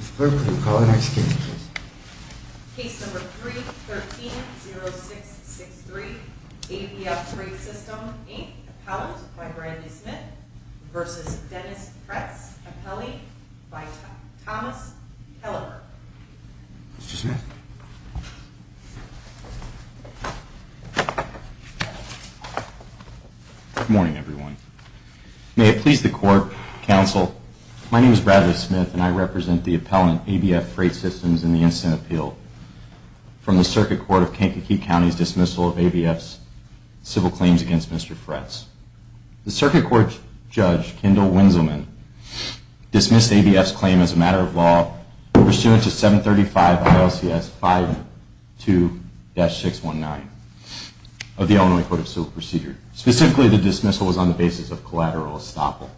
Appellate by Randy Smith v. Dennis Fretts Appellate by Thomas Helleburg Mr. Smith? Good morning everyone. May it please the Court, Counsel, my name is Bradley Smith and I represent the Appellant, ABF Freight Systems, in the Instant Appeal from the Circuit Court of Kankakee County's dismissal of ABF's civil claims against Mr. Fretts. The Circuit Court Judge, Kendall Winzelman, dismissed ABF's claim as a matter of law pursuant to 735 ILCS 52-619 of the Illinois Code of Civil Procedure. Specifically, the dismissal was on the basis of collateral estoppel.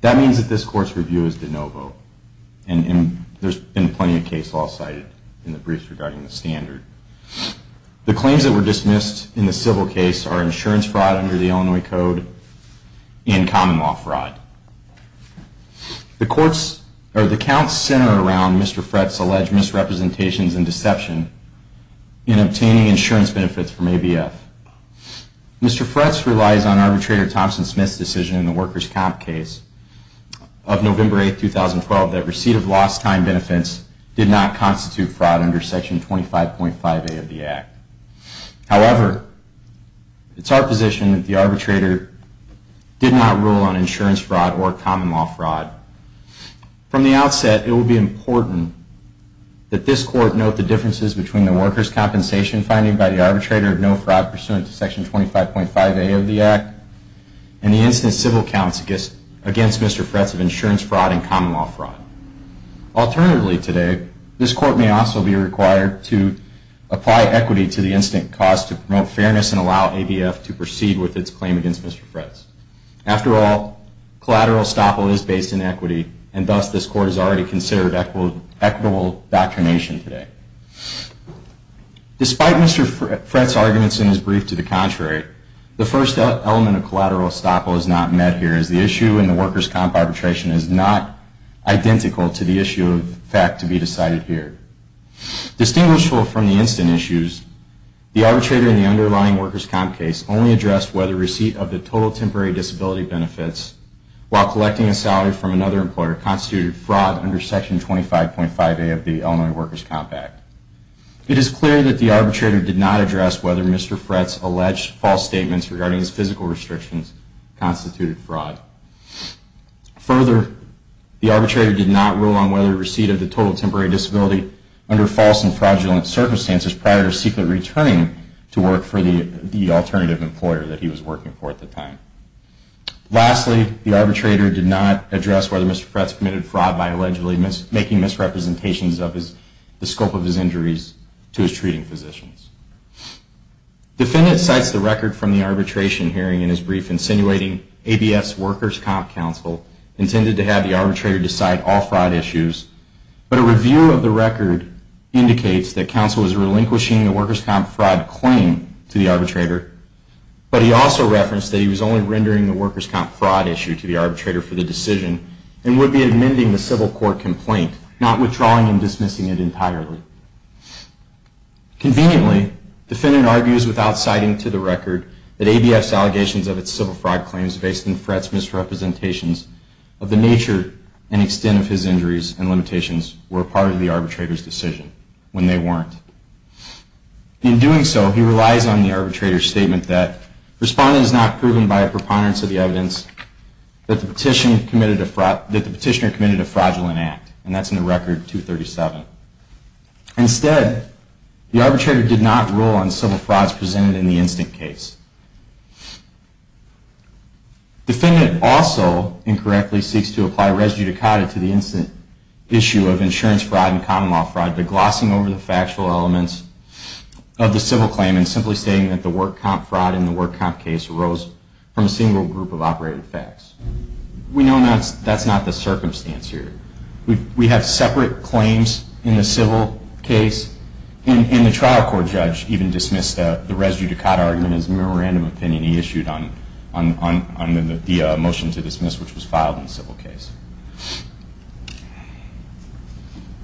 That means that this Court's review is de novo and there's been plenty of case law cited in the briefs regarding the standard. The claims that were dismissed in the civil case are insurance fraud under the Illinois Code and common law fraud. The counts center around Mr. Fretts' alleged misrepresentations and deception in obtaining insurance benefits from ABF. Mr. Fretts relies on Arbitrator Thompson Smith's decision in the Workers' Comp case of November 8, 2012 that receipt of lost time benefits did not constitute fraud under Section 25.5A of the Act. However, it's our position that the Arbitrator did not rule on insurance fraud or common law fraud. From the outset, it will be important that this Court note the differences between the Workers' Compensation finding by the Arbitrator of no fraud pursuant to Section 25.5A of the Act and the instance civil counts against Mr. Fretts of insurance fraud and common law fraud. Alternatively today, this Court may also be required to apply equity to the incident caused to promote fairness and allow ABF to proceed with its claim against Mr. Fretts. After all, collateral estoppel is based in equity and thus this Court has already considered equitable doctrination today. Despite Mr. Fretts' arguments in his brief to the contrary, the first element of collateral estoppel is not met here, as the issue in the Workers' Comp arbitration is not identical to the issue of fact to be decided here. Distinguishable from the incident issues, the Arbitrator in the underlying Workers' Comp case only addressed whether receipt of the total temporary disability benefits while collecting a salary from another employer constituted fraud under Section 25.5A of the Illinois Workers' Comp Act. It is clear that the Arbitrator did not address whether Mr. Fretts' alleged false statements regarding his physical restrictions constituted fraud. Further, the Arbitrator did not rule on whether receipt of the total temporary disability under false and fraudulent circumstances prior to secretly returning to work for the alternative employer that he was working for at the time. Lastly, the Arbitrator did not address whether Mr. Fretts committed fraud by allegedly making misrepresentations of the scope of his injuries to his treating physicians. Defendant cites the record from the arbitration hearing in his brief insinuating ABS Workers' Comp counsel intended to have the Arbitrator decide all fraud issues, but a review of the record indicates that counsel was relinquishing the Workers' Comp fraud claim to the Arbitrator, but he also referenced that he was only rendering the Workers' Comp fraud issue to the Arbitrator for the decision and would be amending the civil court complaint, not withdrawing and dismissing it entirely. Conveniently, Defendant argues without citing to the record that ABS' allegations of its civil fraud claims based on Fretts' misrepresentations of the nature and extent of his injuries and limitations were part of the Arbitrator's decision, when they weren't. In doing so, he relies on the Arbitrator's statement that, Respondent is not proven by a preponderance of the evidence that the Petitioner committed a fraudulent act, and that's in the record 237. Instead, the Arbitrator did not rule on civil frauds presented in the instant case. Defendant also incorrectly seeks to apply residue decada to the instant issue of insurance fraud and common law fraud by glossing over the factual elements of the civil claim and simply stating that the Work Comp fraud in the Work Comp case arose from a single group of operated facts. We know that's not the circumstance here. We have separate claims in the civil case, and the trial court judge even dismissed the residue decada argument as a memorandum opinion he issued on the motion to dismiss, which was filed in the civil case.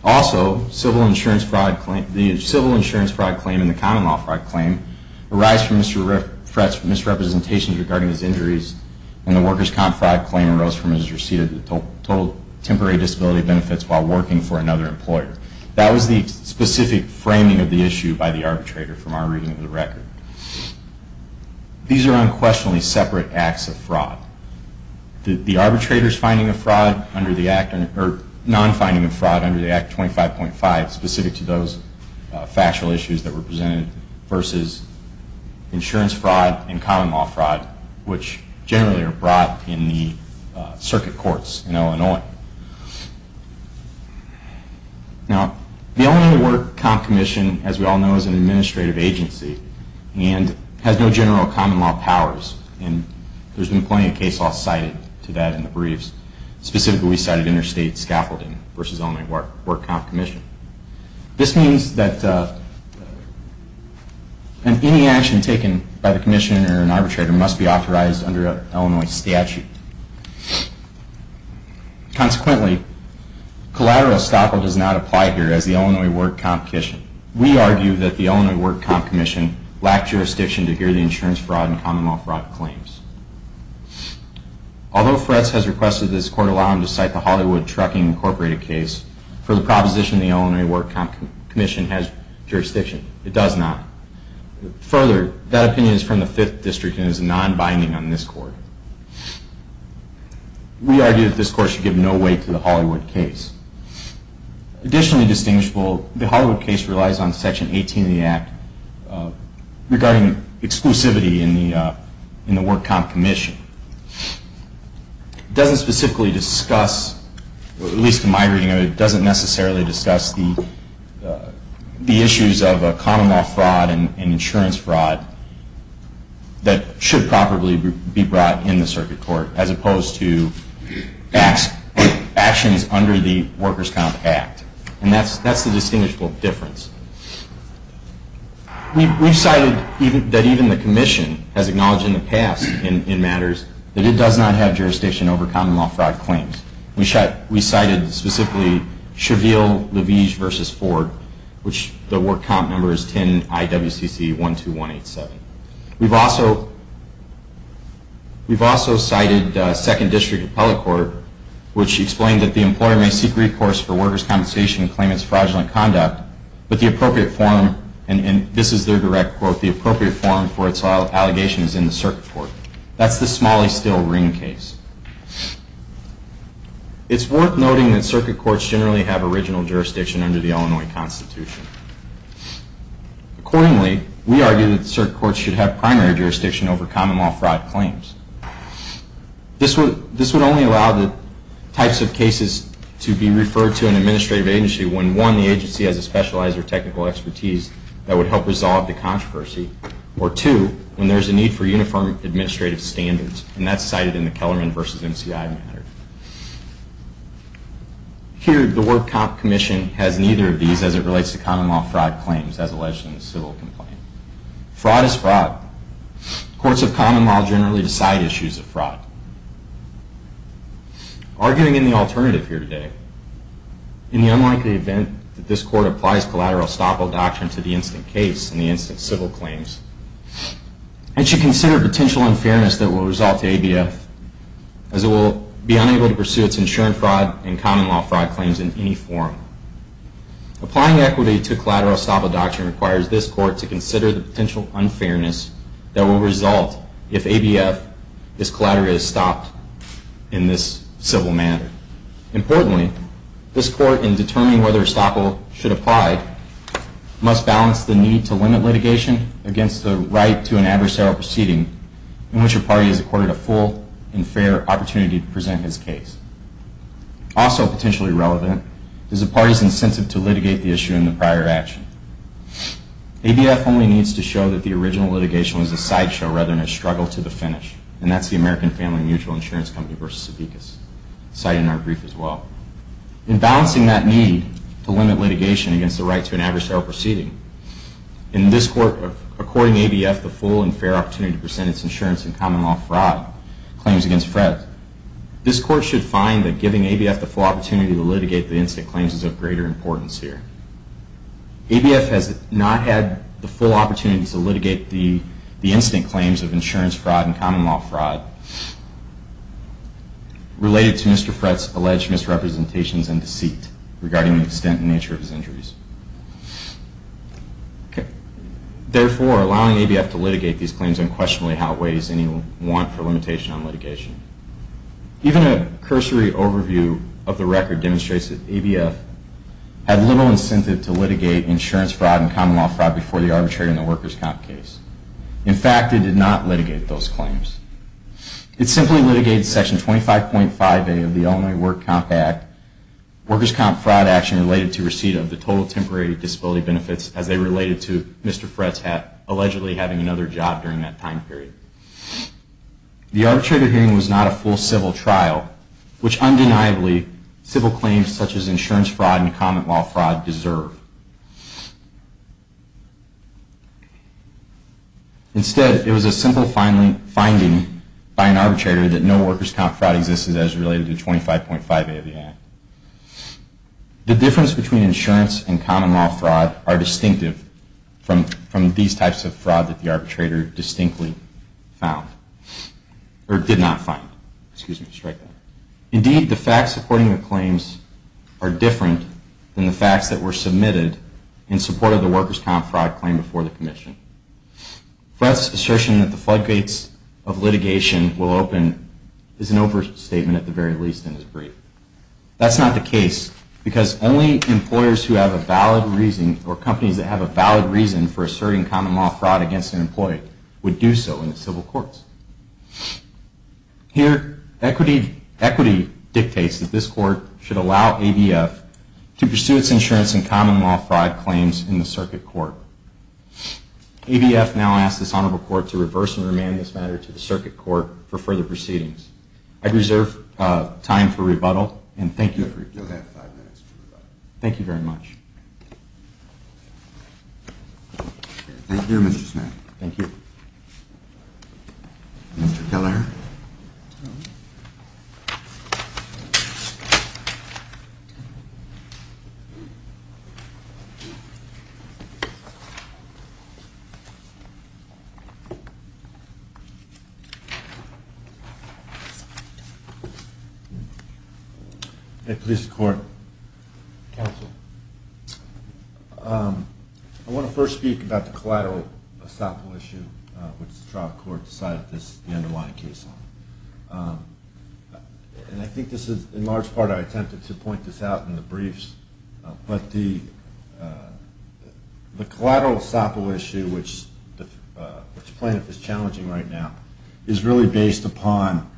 Also, the civil insurance fraud claim and the common law fraud claim arise from Mr. Fretz's misrepresentations regarding his injuries, and the Worker's Comp fraud claim arose from his receipt of the total temporary disability benefits while working for another employer. That was the specific framing of the issue by the Arbitrator from our reading of the record. These are unquestionably separate acts of fraud. The Arbitrator's non-finding of fraud under the Act 25.5, specific to those factual issues that were presented, versus insurance fraud and common law fraud, which generally are brought in the circuit courts in Illinois. Now, the Illinois Work Comp Commission, as we all know, is an administrative agency and has no general common law powers. And there's been plenty of case law cited to that in the briefs. Specifically, we cited interstate scaffolding versus Illinois Work Comp Commission. This means that any action taken by the Commissioner or an Arbitrator must be authorized under Illinois statute. Consequently, collateral estoppel does not apply here as the Illinois Work Comp Commission. We argue that the Illinois Work Comp Commission lacked jurisdiction to hear the insurance fraud and common law fraud claims. Although Fretz has requested this Court allow him to cite the Hollywood Trucking Incorporated case, for the proposition the Illinois Work Comp Commission has jurisdiction, it does not. Further, that opinion is from the Fifth District and is non-binding on this Court. We argue that this Court should give no weight to the Hollywood case. Additionally distinguishable, the Hollywood case relies on Section 18 of the Act regarding exclusivity in the Work Comp Commission. It doesn't specifically discuss, at least in my reading of it, it doesn't necessarily discuss the issues of common law fraud and insurance fraud that should properly be brought in the circuit court, as opposed to actions under the Workers' Comp Act. And that's the distinguishable difference. We've cited that even the Commission has acknowledged in the past in matters that it does not have jurisdiction over common law fraud claims. We cited specifically Cheville-Levige v. Ford, which the Work Comp number is 10-IWCC-12187. We've also cited Second District Appellate Court, which explained that the employer may seek recourse for workers' compensation and claim it's fraudulent conduct, but the appropriate form, and this is their direct quote, the appropriate form for its allegations is in the circuit court. That's the Smalley-Still-Ring case. It's worth noting that circuit courts generally have original jurisdiction under the Illinois Constitution. Accordingly, we argue that the circuit courts should have primary jurisdiction over common law fraud claims. This would only allow the types of cases to be referred to an administrative agency when one, the agency has a specialized or technical expertise that would help resolve the controversy, or two, when there's a need for uniform administrative standards, and that's cited in the Kellerman v. MCI matter. Here, the Work Comp Commission has neither of these as it relates to common law fraud claims as alleged in the civil complaint. Fraud is fraud. Courts of common law generally decide issues of fraud. Arguing in the alternative here today, in the unlikely event that this court applies collateral estoppel doctrine to the instant case and the instant civil claims, it should consider potential unfairness that will result to ABF, as it will be unable to pursue its insurance fraud and common law fraud claims in any form. Applying equity to collateral estoppel doctrine requires this court to consider the potential unfairness that will result if ABF is collaterally stopped in this civil matter. Importantly, this court, in determining whether estoppel should apply, must balance the need to limit litigation against the right to an adversarial proceeding in which a party is accorded a full and fair opportunity to present its case. Also potentially relevant is a party's incentive to litigate the issue in the prior action. ABF only needs to show that the original litigation was a sideshow rather than a struggle to the finish, and that's the American Family Mutual Insurance Company v. Sopekas, cited in our brief as well. In balancing that need to limit litigation against the right to an adversarial proceeding, in this court, according to ABF, the full and fair opportunity to present its insurance and common law fraud claims against Fred, this court should find that giving ABF the full opportunity to litigate the instant claims is of greater importance here. ABF has not had the full opportunity to litigate the instant claims of insurance fraud and common law fraud related to Mr. Fred's alleged misrepresentations and deceit regarding the extent and nature of his injuries. Therefore, allowing ABF to litigate these claims unquestionably outweighs any want for limitation on litigation. Even a cursory overview of the record demonstrates that ABF had little incentive to litigate insurance fraud and common law fraud before the arbitrator in the workers' comp case. In fact, it did not litigate those claims. It simply litigated Section 25.5A of the Illinois Work Comp Act, workers' comp fraud action related to receipt of the total temporary disability benefits as they related to Mr. Fred's allegedly having another job during that time period. The arbitrator hearing was not a full civil trial, which undeniably civil claims such as insurance fraud and common law fraud deserve. Instead, it was a simple finding by an arbitrator that no workers' comp fraud existed as related to 25.5A of the Act. The difference between insurance and common law fraud are distinctive from these types of fraud that the arbitrator distinctly found, or did not find. Indeed, the facts supporting the claims are different than the facts that were submitted in support of the workers' comp fraud claim before the Commission. Fred's assertion that the floodgates of litigation will open is an overstatement at the very least in his brief. That's not the case, because only companies that have a valid reason for asserting common law fraud against an employee would do so in the civil courts. Here, equity dictates that this Court should allow ABF to pursue its insurance and common law fraud claims in the Circuit Court. ABF now asks this Honorable Court to reverse and remand this matter to the Circuit Court for further proceedings. I reserve time for rebuttal, and thank you. Mr. Kelleher. Hey, Police Court. Counsel. I want to first speak about the collateral estoppel issue, which the trial court decided this is the underlying case on. And I think this is, in large part, I attempted to point this out in the briefs, but the collateral estoppel issue, which plaintiff is challenging right now, is really based upon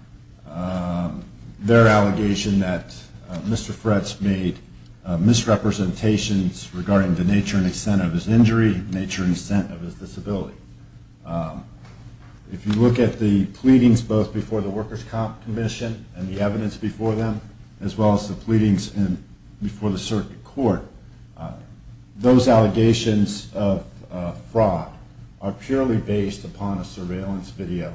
their allegation that Mr. Fred's made misrepresentation of the nature and extent of his injury, the nature and extent of his disability. If you look at the pleadings both before the Workers' Comp Commission and the evidence before them, as well as the pleadings before the Circuit Court, those allegations of fraud are purely based upon a surveillance video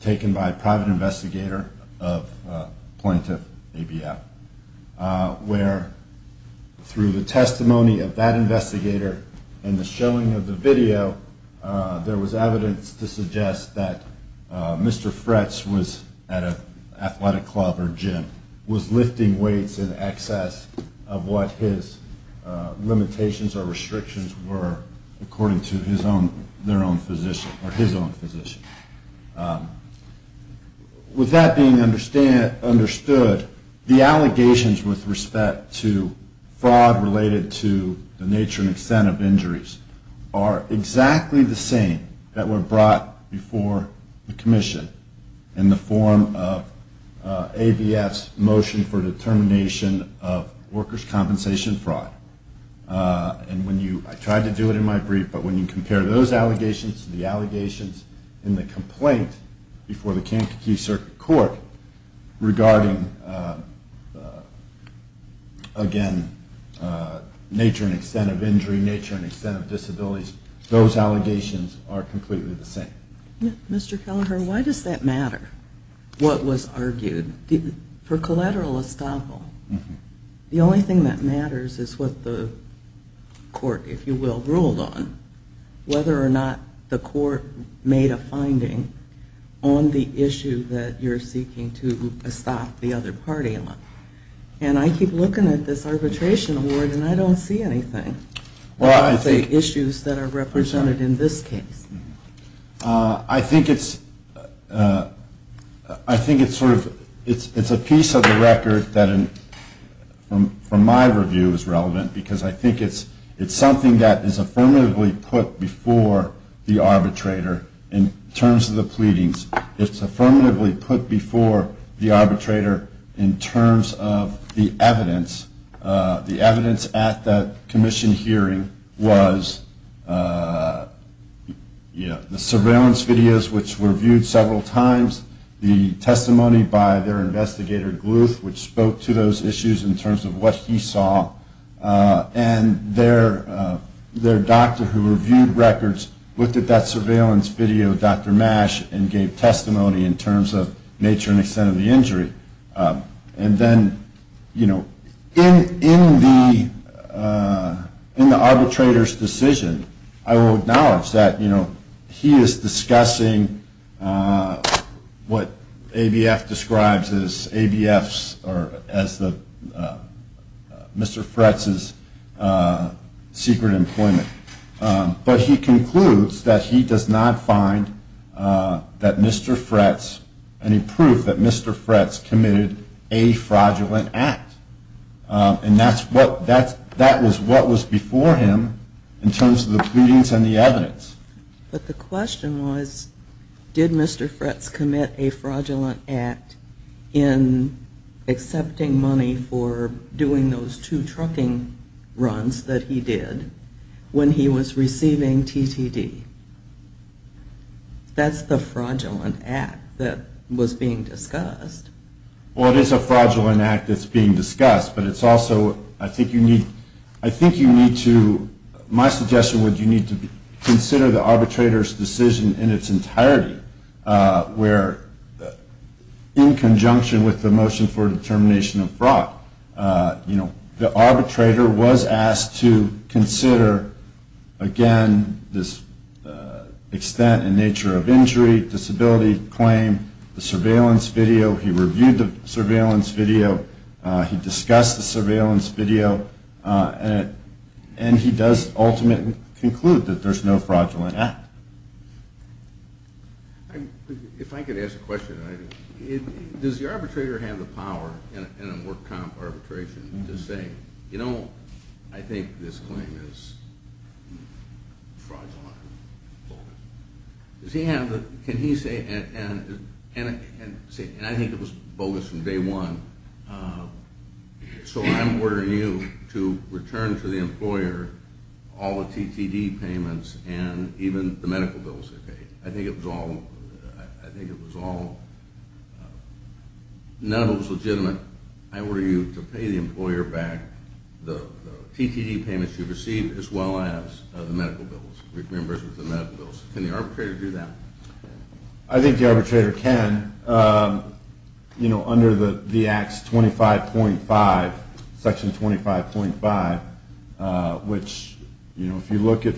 taken by a private investigator of a plaintiff, ABF, where, through the testimony of that investigator and the showing of the video, there was evidence to suggest that Mr. Fred's was at an athletic club or gym, was lifting weights in excess of what his limitations or restrictions were, according to their own physician, or his own physician. With that being understood, the allegations with respect to fraud related to the nature and extent of injuries are exactly the same that were brought before the Commission in the form of ABF's motion for determination of workers' compensation fraud. I tried to do it in my brief, but when you compare those allegations to the allegations in the complaint before the Kankakee Circuit Court regarding, again, nature and extent of injury, nature and extent of disabilities, those allegations are completely the same. Mr. Kelleher, why does that matter, what was argued? For collateral estoppel, the only thing that matters is what the court, if you will, ruled on, whether or not the court made a finding on the issue that you're seeking to estop the other party on. And I keep looking at this arbitration award and I don't see anything about the issues that are represented in this case. I think it's a piece of the record that, from my review, is relevant, because I think it's something that is affirmatively put before the arbitrator in terms of the pleadings. It's affirmatively put before the arbitrator in terms of the evidence. The evidence at that commission hearing was the surveillance videos, which were viewed several times, the testimony by their investigator, Gluth, which spoke to those issues in terms of what he saw, and their doctor, who reviewed records, looked at that surveillance video, Dr. Mash, and gave testimony in terms of nature and extent of the injury. In the arbitrator's decision, I will acknowledge that he is discussing what ABF describes as Mr. Fretz's secret employment. But he concludes that he does not find any proof that Mr. Fretz committed a fraudulent act. And that was what was before him in terms of the pleadings and the evidence. But the question was, did Mr. Fretz commit a fraudulent act in accepting money for doing those two trucking runs that he did when he was receiving TTD? That's the fraudulent act that was being discussed. Well, it is a fraudulent act that's being discussed, but it's also, I think you need to, my suggestion would be you need to consider the arbitrator's decision in its entirety, where in conjunction with the motion for determination of fraud, the arbitrator was asked to consider, again, this extent and nature of injury, disability claim, the surveillance video. He reviewed the surveillance video. He discussed the surveillance video. And he does ultimately conclude that there's no fraudulent act. If I could ask a question, does the arbitrator have the power in a work comp arbitration to say, you know, I think this claim is fraudulent? Does he have the, can he say, and I think it was bogus from day one. So I'm ordering you to return to the employer all the TTD payments and even the medical bills they paid. I think it was all, none of it was legitimate. I order you to pay the employer back the TTD payments you received as well as the medical bills. Can the arbitrator do that? I think the arbitrator can. You know, under the Acts 25.5, Section 25.5, which, you know, if you look at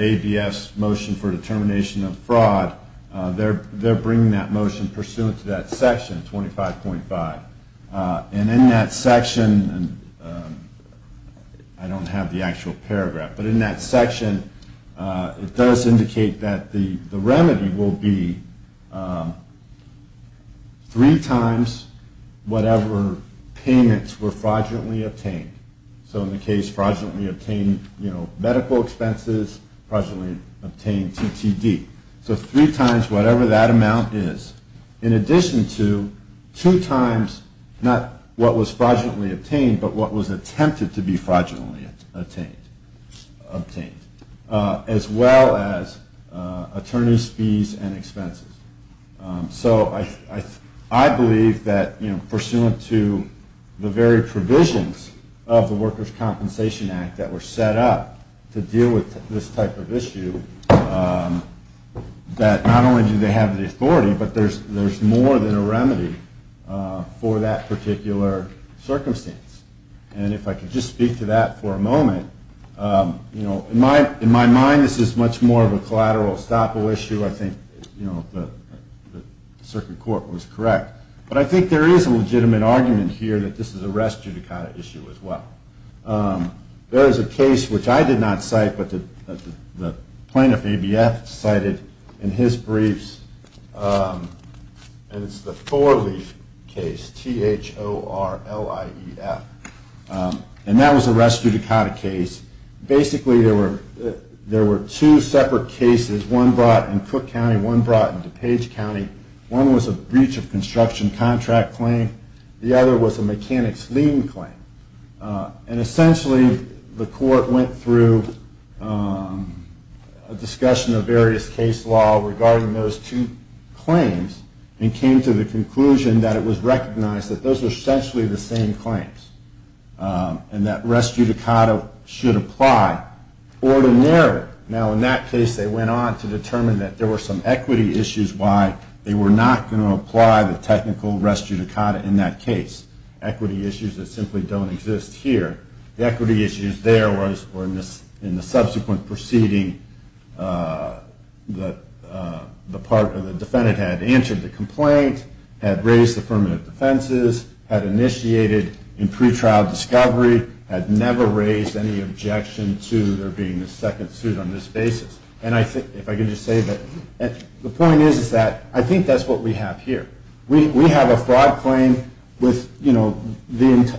ABS motion for determination of fraud, they're bringing that motion pursuant to that section, 25.5. And in that section, I don't have the actual paragraph. But in that section, it does indicate that the remedy will be three times whatever payments were fraudulently obtained. So in the case fraudulently obtained, you know, medical expenses, fraudulently obtained TTD. So three times whatever that amount is. In addition to two times not what was fraudulently obtained but what was attempted to be fraudulently obtained. As well as attorney's fees and expenses. So I believe that, you know, pursuant to the very provisions of the Workers' Compensation Act that were set up to deal with this type of issue, that not only do they have the authority, but there's more than a remedy for that particular circumstance. And if I could just speak to that for a moment, you know, in my mind, this is much more of a collateral estoppel issue. I think, you know, the circuit court was correct. But I think there is a legitimate argument here that this is a rest judicata issue as well. There is a case which I did not cite, but the plaintiff ABF cited in his briefs, and it's the Four Leaf case, T-H-O-R-L-I-E-F. And that was a rest judicata case. Basically there were two separate cases, one brought in Cook County, one brought in DuPage County. One was a breach of construction contract claim. The other was a mechanic's lien claim. And essentially the court went through a discussion of various case law regarding those two claims and came to the conclusion that it was recognized that those were essentially the same claims. And that rest judicata should apply ordinarily. Now in that case they went on to determine that there were some equity issues why they were not going to apply the technical rest judicata in that case. Equity issues that simply don't exist here. The equity issues there were in the subsequent proceeding that the defendant had answered the complaint, had raised affirmative defenses, had initiated in pretrial discovery, had never raised any objection to there being a second suit on this basis. The point is that I think that's what we have here. We have a fraud claim with the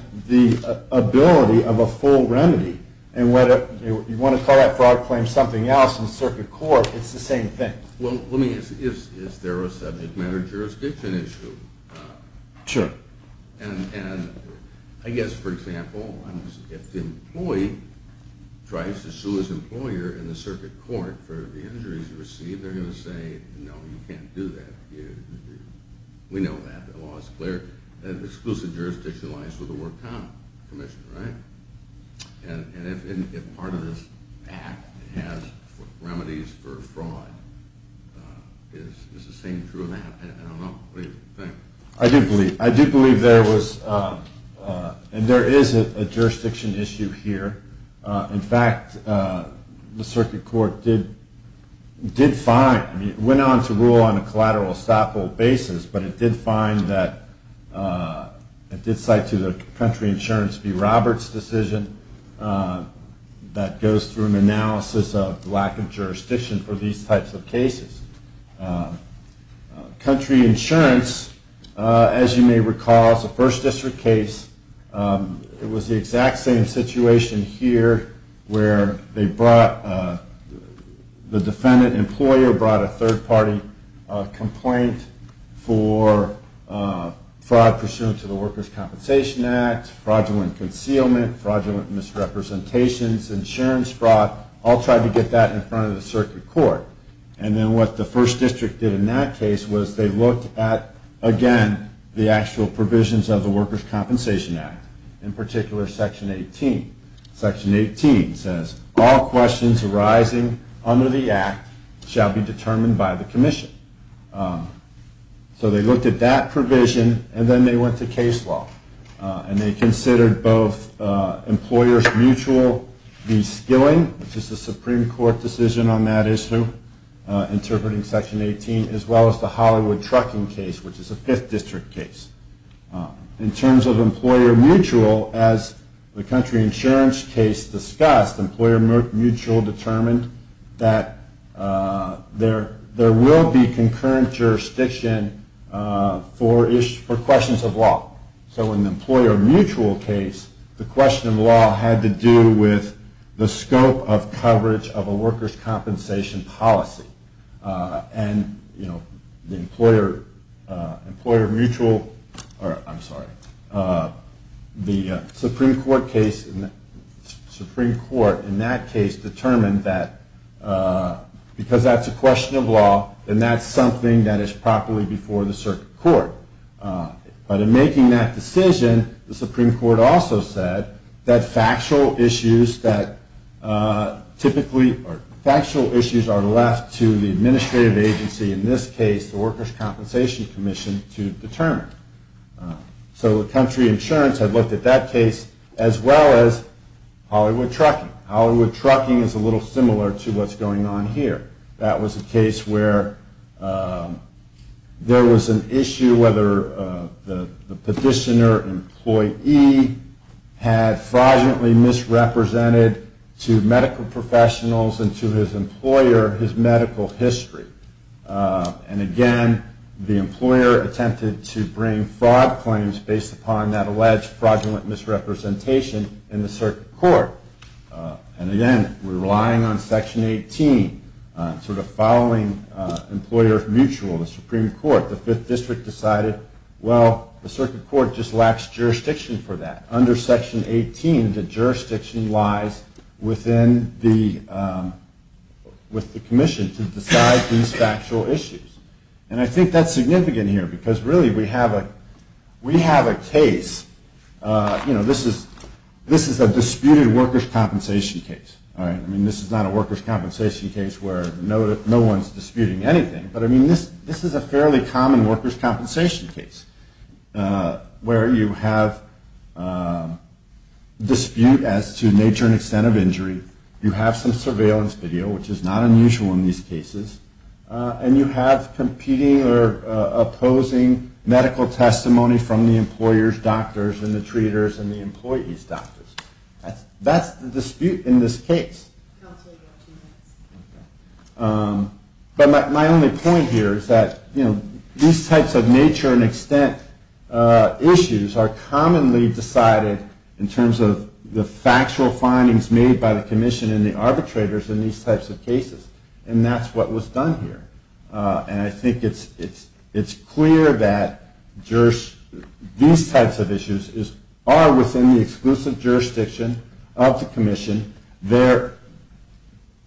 ability of a full remedy. And whether you want to call that fraud claim something else in circuit court, it's the same thing. Well let me ask, is there a subject matter jurisdiction issue? Sure. And I guess for example, if the employee tries to sue his employer in the circuit court for the injuries he received, they're going to say no, you can't do that. We know that, the law is clear. And if part of this act has remedies for fraud, is the same true in that? I do believe there was, and there is a jurisdiction issue here. In fact, the circuit court did find, it went on to rule on a collateral estoppel basis, but it did cite to the country insurance B. Roberts decision, that goes through an analysis of lack of jurisdiction for these types of cases. Country insurance, as you may recall, is a first district case. It was the exact same situation here where they brought, the defendant employer brought a third party complaint for fraud pursuant to the workers' compensation act, fraudulent concealment, fraudulent misrepresentations, insurance fraud, all tried to get that in front of the circuit court. And then what the first district did in that case was they looked at, again, the actual provisions of the workers' compensation act. In particular, section 18. Section 18 says, all questions arising under the act shall be determined by the commission. So they looked at that provision, and then they went to case law. And they considered both employer's mutual de-skilling, which is a Supreme Court decision on that issue, interpreting section 18, as well as the Hollywood trucking case, which is a fifth district case. In terms of employer mutual, as the country insurance case discussed, employer mutual determined that there will be concurrent jurisdiction for questions of law. So in the employer mutual case, the question of law had to do with the scope of coverage of a workers' compensation policy. The Supreme Court in that case determined that because that's a question of law, then that's something that is properly before the circuit court. But in making that decision, the Supreme Court also said that factual issues are left to the administrative agency, in this case the workers' compensation commission, to determine. So the country insurance had looked at that case, as well as Hollywood trucking. Hollywood trucking is a little similar to what's going on here. That was a case where there was an issue whether the petitioner employee had fraudulently misrepresented to medical professionals and to his employer his medical history. And again, the employer attempted to bring fraud claims based upon that alleged fraudulent misrepresentation in the circuit court. And again, we're relying on Section 18, sort of following employer mutual, the Supreme Court. The Fifth District decided, well, the circuit court just lacks jurisdiction for that. Under Section 18, the jurisdiction lies with the commission to decide these factual issues. And I think that's significant here, because really we have a case. You know, this is a disputed workers' compensation case. I mean, this is not a workers' compensation case where no one's disputing anything. But I mean, this is a fairly common workers' compensation case, where you have dispute as to nature and extent of injury. You have some surveillance video, which is not unusual in these cases. And you have competing or opposing medical testimony from the employer's doctors and the treaters and the employees' doctors. That's the dispute in this case. But my only point here is that these types of nature and extent issues are commonly decided in terms of the factual findings made by the commission and the arbitrators in these types of cases. And that's what was done here. And I think it's clear that these types of issues are within the exclusive jurisdiction of the commission.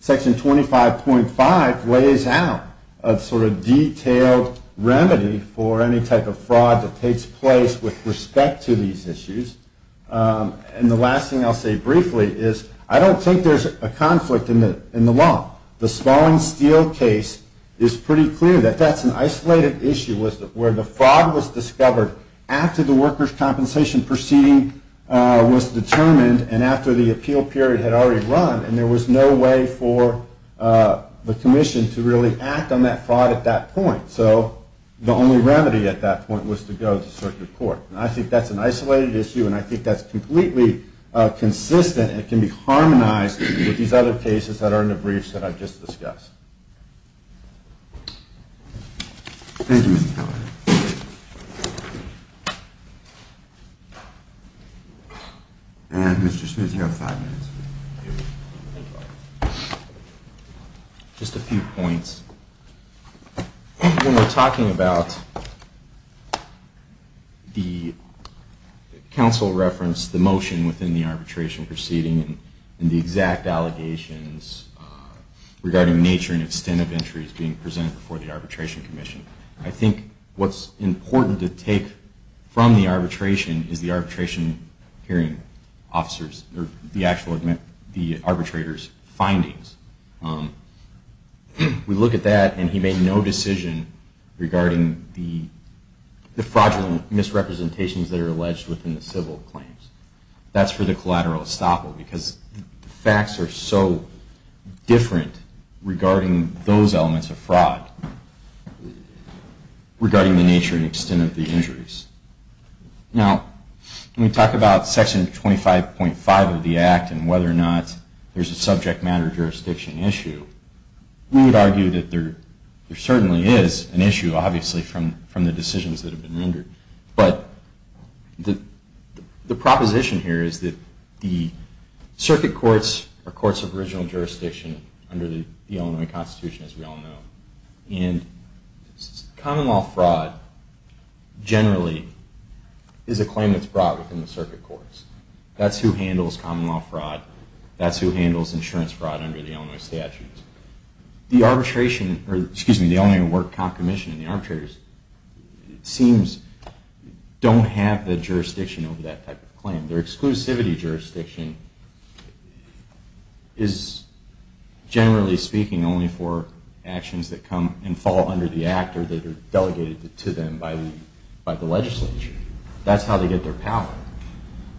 Section 25.5 lays out a sort of detailed remedy for any type of fraud that takes place with respect to these issues. And the last thing I'll say briefly is I don't think there's a conflict in the law. The Spalding Steel case is pretty clear that that's an isolated issue where the fraud was discovered after the workers' compensation proceeding was determined and after the appeal period had already run, and there was no way for the commission to really act on that fraud at that point. So the only remedy at that point was to go to circuit court. And I think that's an isolated issue, and I think that's completely consistent and can be harmonized with these other cases that are in the briefs that I've just discussed. Thank you, Mr. Kelly. And Mr. Smith, you have five minutes. Just a few points. When we're talking about the council reference, the motion within the arbitration proceeding, and the exact allegations regarding nature and extent of entries being presented before the Arbitration Commission, I think what's important to take from the arbitration is the arbitration hearing and the actual arbitrator's findings. We look at that, and he made no decision regarding the fraudulent misrepresentations that are alleged within the civil claims. That's for the collateral estoppel, because the facts are so different regarding those elements of fraud regarding the nature and extent of the claims. We would argue that there certainly is an issue, obviously, from the decisions that have been rendered. But the proposition here is that the circuit courts are courts of original jurisdiction under the Illinois Constitution, as we all know. And common law fraud generally is a claim that's brought within the circuit courts. That's who handles common law fraud. That's who handles insurance fraud under the Illinois statutes. The Illinois Work Comp Commission and the arbitrators, it seems, don't have the jurisdiction over that type of claim. Their exclusivity jurisdiction is, generally speaking, only for actions that come and fall under the Act or that are delegated to them by the legislature. That's how they get their power.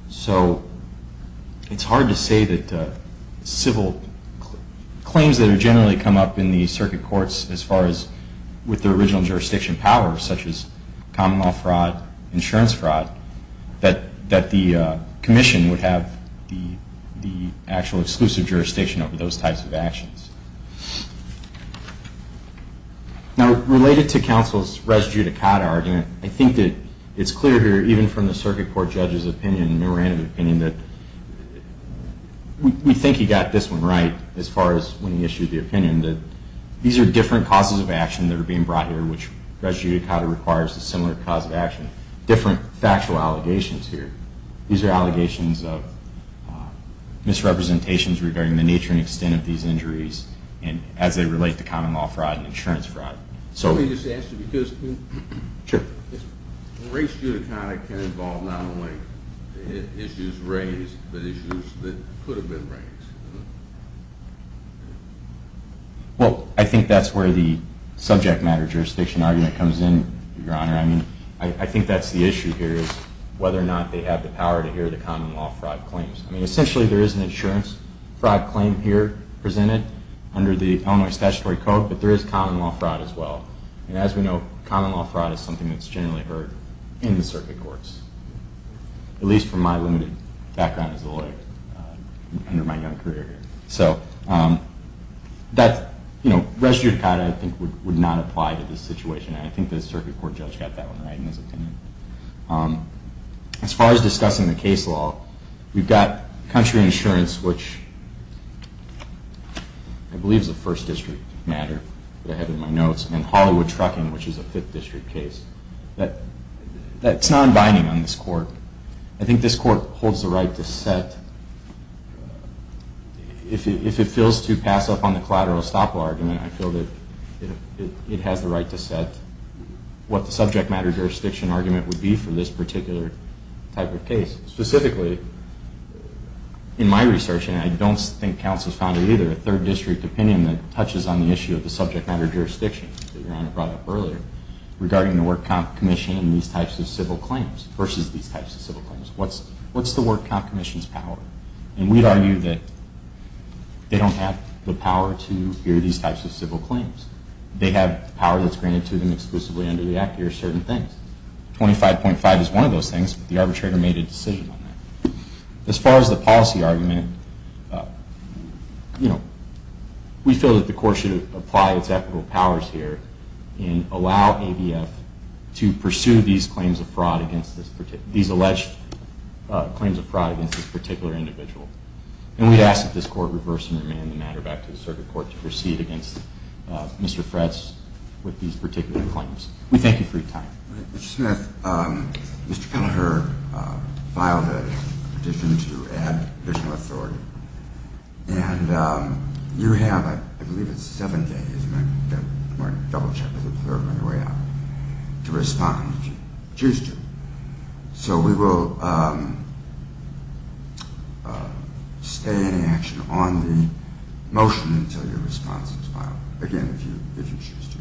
So it's hard to say that civil claims that generally come up in the circuit courts, as far as with their original jurisdiction power, such as common law fraud, insurance fraud, that the Commission would have the actual exclusive jurisdiction over those types of actions. Now, related to counsel's res judicata argument, I think that it's clear here, even from the circuit court judge's opinion, memorandum of opinion, that we think he got this one right, as far as when he issued the opinion. These are different causes of action that are being brought here, which res judicata requires a similar cause of action. Different factual allegations here. These are allegations of misrepresentations regarding the nature and extent of these injuries. As they relate to common law fraud and insurance fraud. Res judicata can involve not only issues raised, but issues that could have been raised. Well, I think that's where the subject matter jurisdiction argument comes in, Your Honor. I think that's the issue here, is whether or not they have the power to hear the common law fraud claims. I mean, essentially, there is an insurance fraud claim here presented under the Illinois Statutory Code, but there is common law fraud as well. And as we know, common law fraud is something that's generally heard in the circuit courts, at least from my limited background as a lawyer under my young career here. So, res judicata, I think, would not apply to this situation, and I think the circuit court judge got that one right in his opinion. As far as discussing the case law, we've got country insurance, which I believe is a First District matter that I have in my notes, and Hollywood Trucking, which is a Fifth District case. That's non-binding on this court. I think this court holds the right to set, if it feels to pass up on the collateral estoppel argument, I feel that it has the right to set what the subject matter jurisdiction argument would be for this particular type of case. Specifically, in my research, and I don't think Council has found it either, a Third District opinion that touches on the issue of the subject matter jurisdiction that Your Honor brought up earlier, regarding the Work Comp Commission and these types of civil claims versus these types of civil claims. What's the Work Comp Commission's power? And we'd argue that they don't have the power to hear these types of civil claims. They have the power that's granted to them exclusively under the Act to hear certain things. 25.5 is one of those things, but the arbitrator made a decision on that. As far as the policy argument, we feel that the court should apply its ethical powers here and allow ADF to pursue these alleged claims of fraud against this particular individual. And we ask that this court reverse and remand the matter back to the Circuit Court to proceed against Mr. Fretz with these particular claims. We thank you for your time. I have a petition to add additional authority. And you have, I believe it's seven days, I'm going to double check with the clerk on your way out, to respond if you choose to. So we will stay in action on the motion until your response is filed. Again, if you choose to.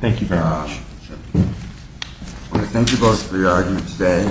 Thank you both for your argument today.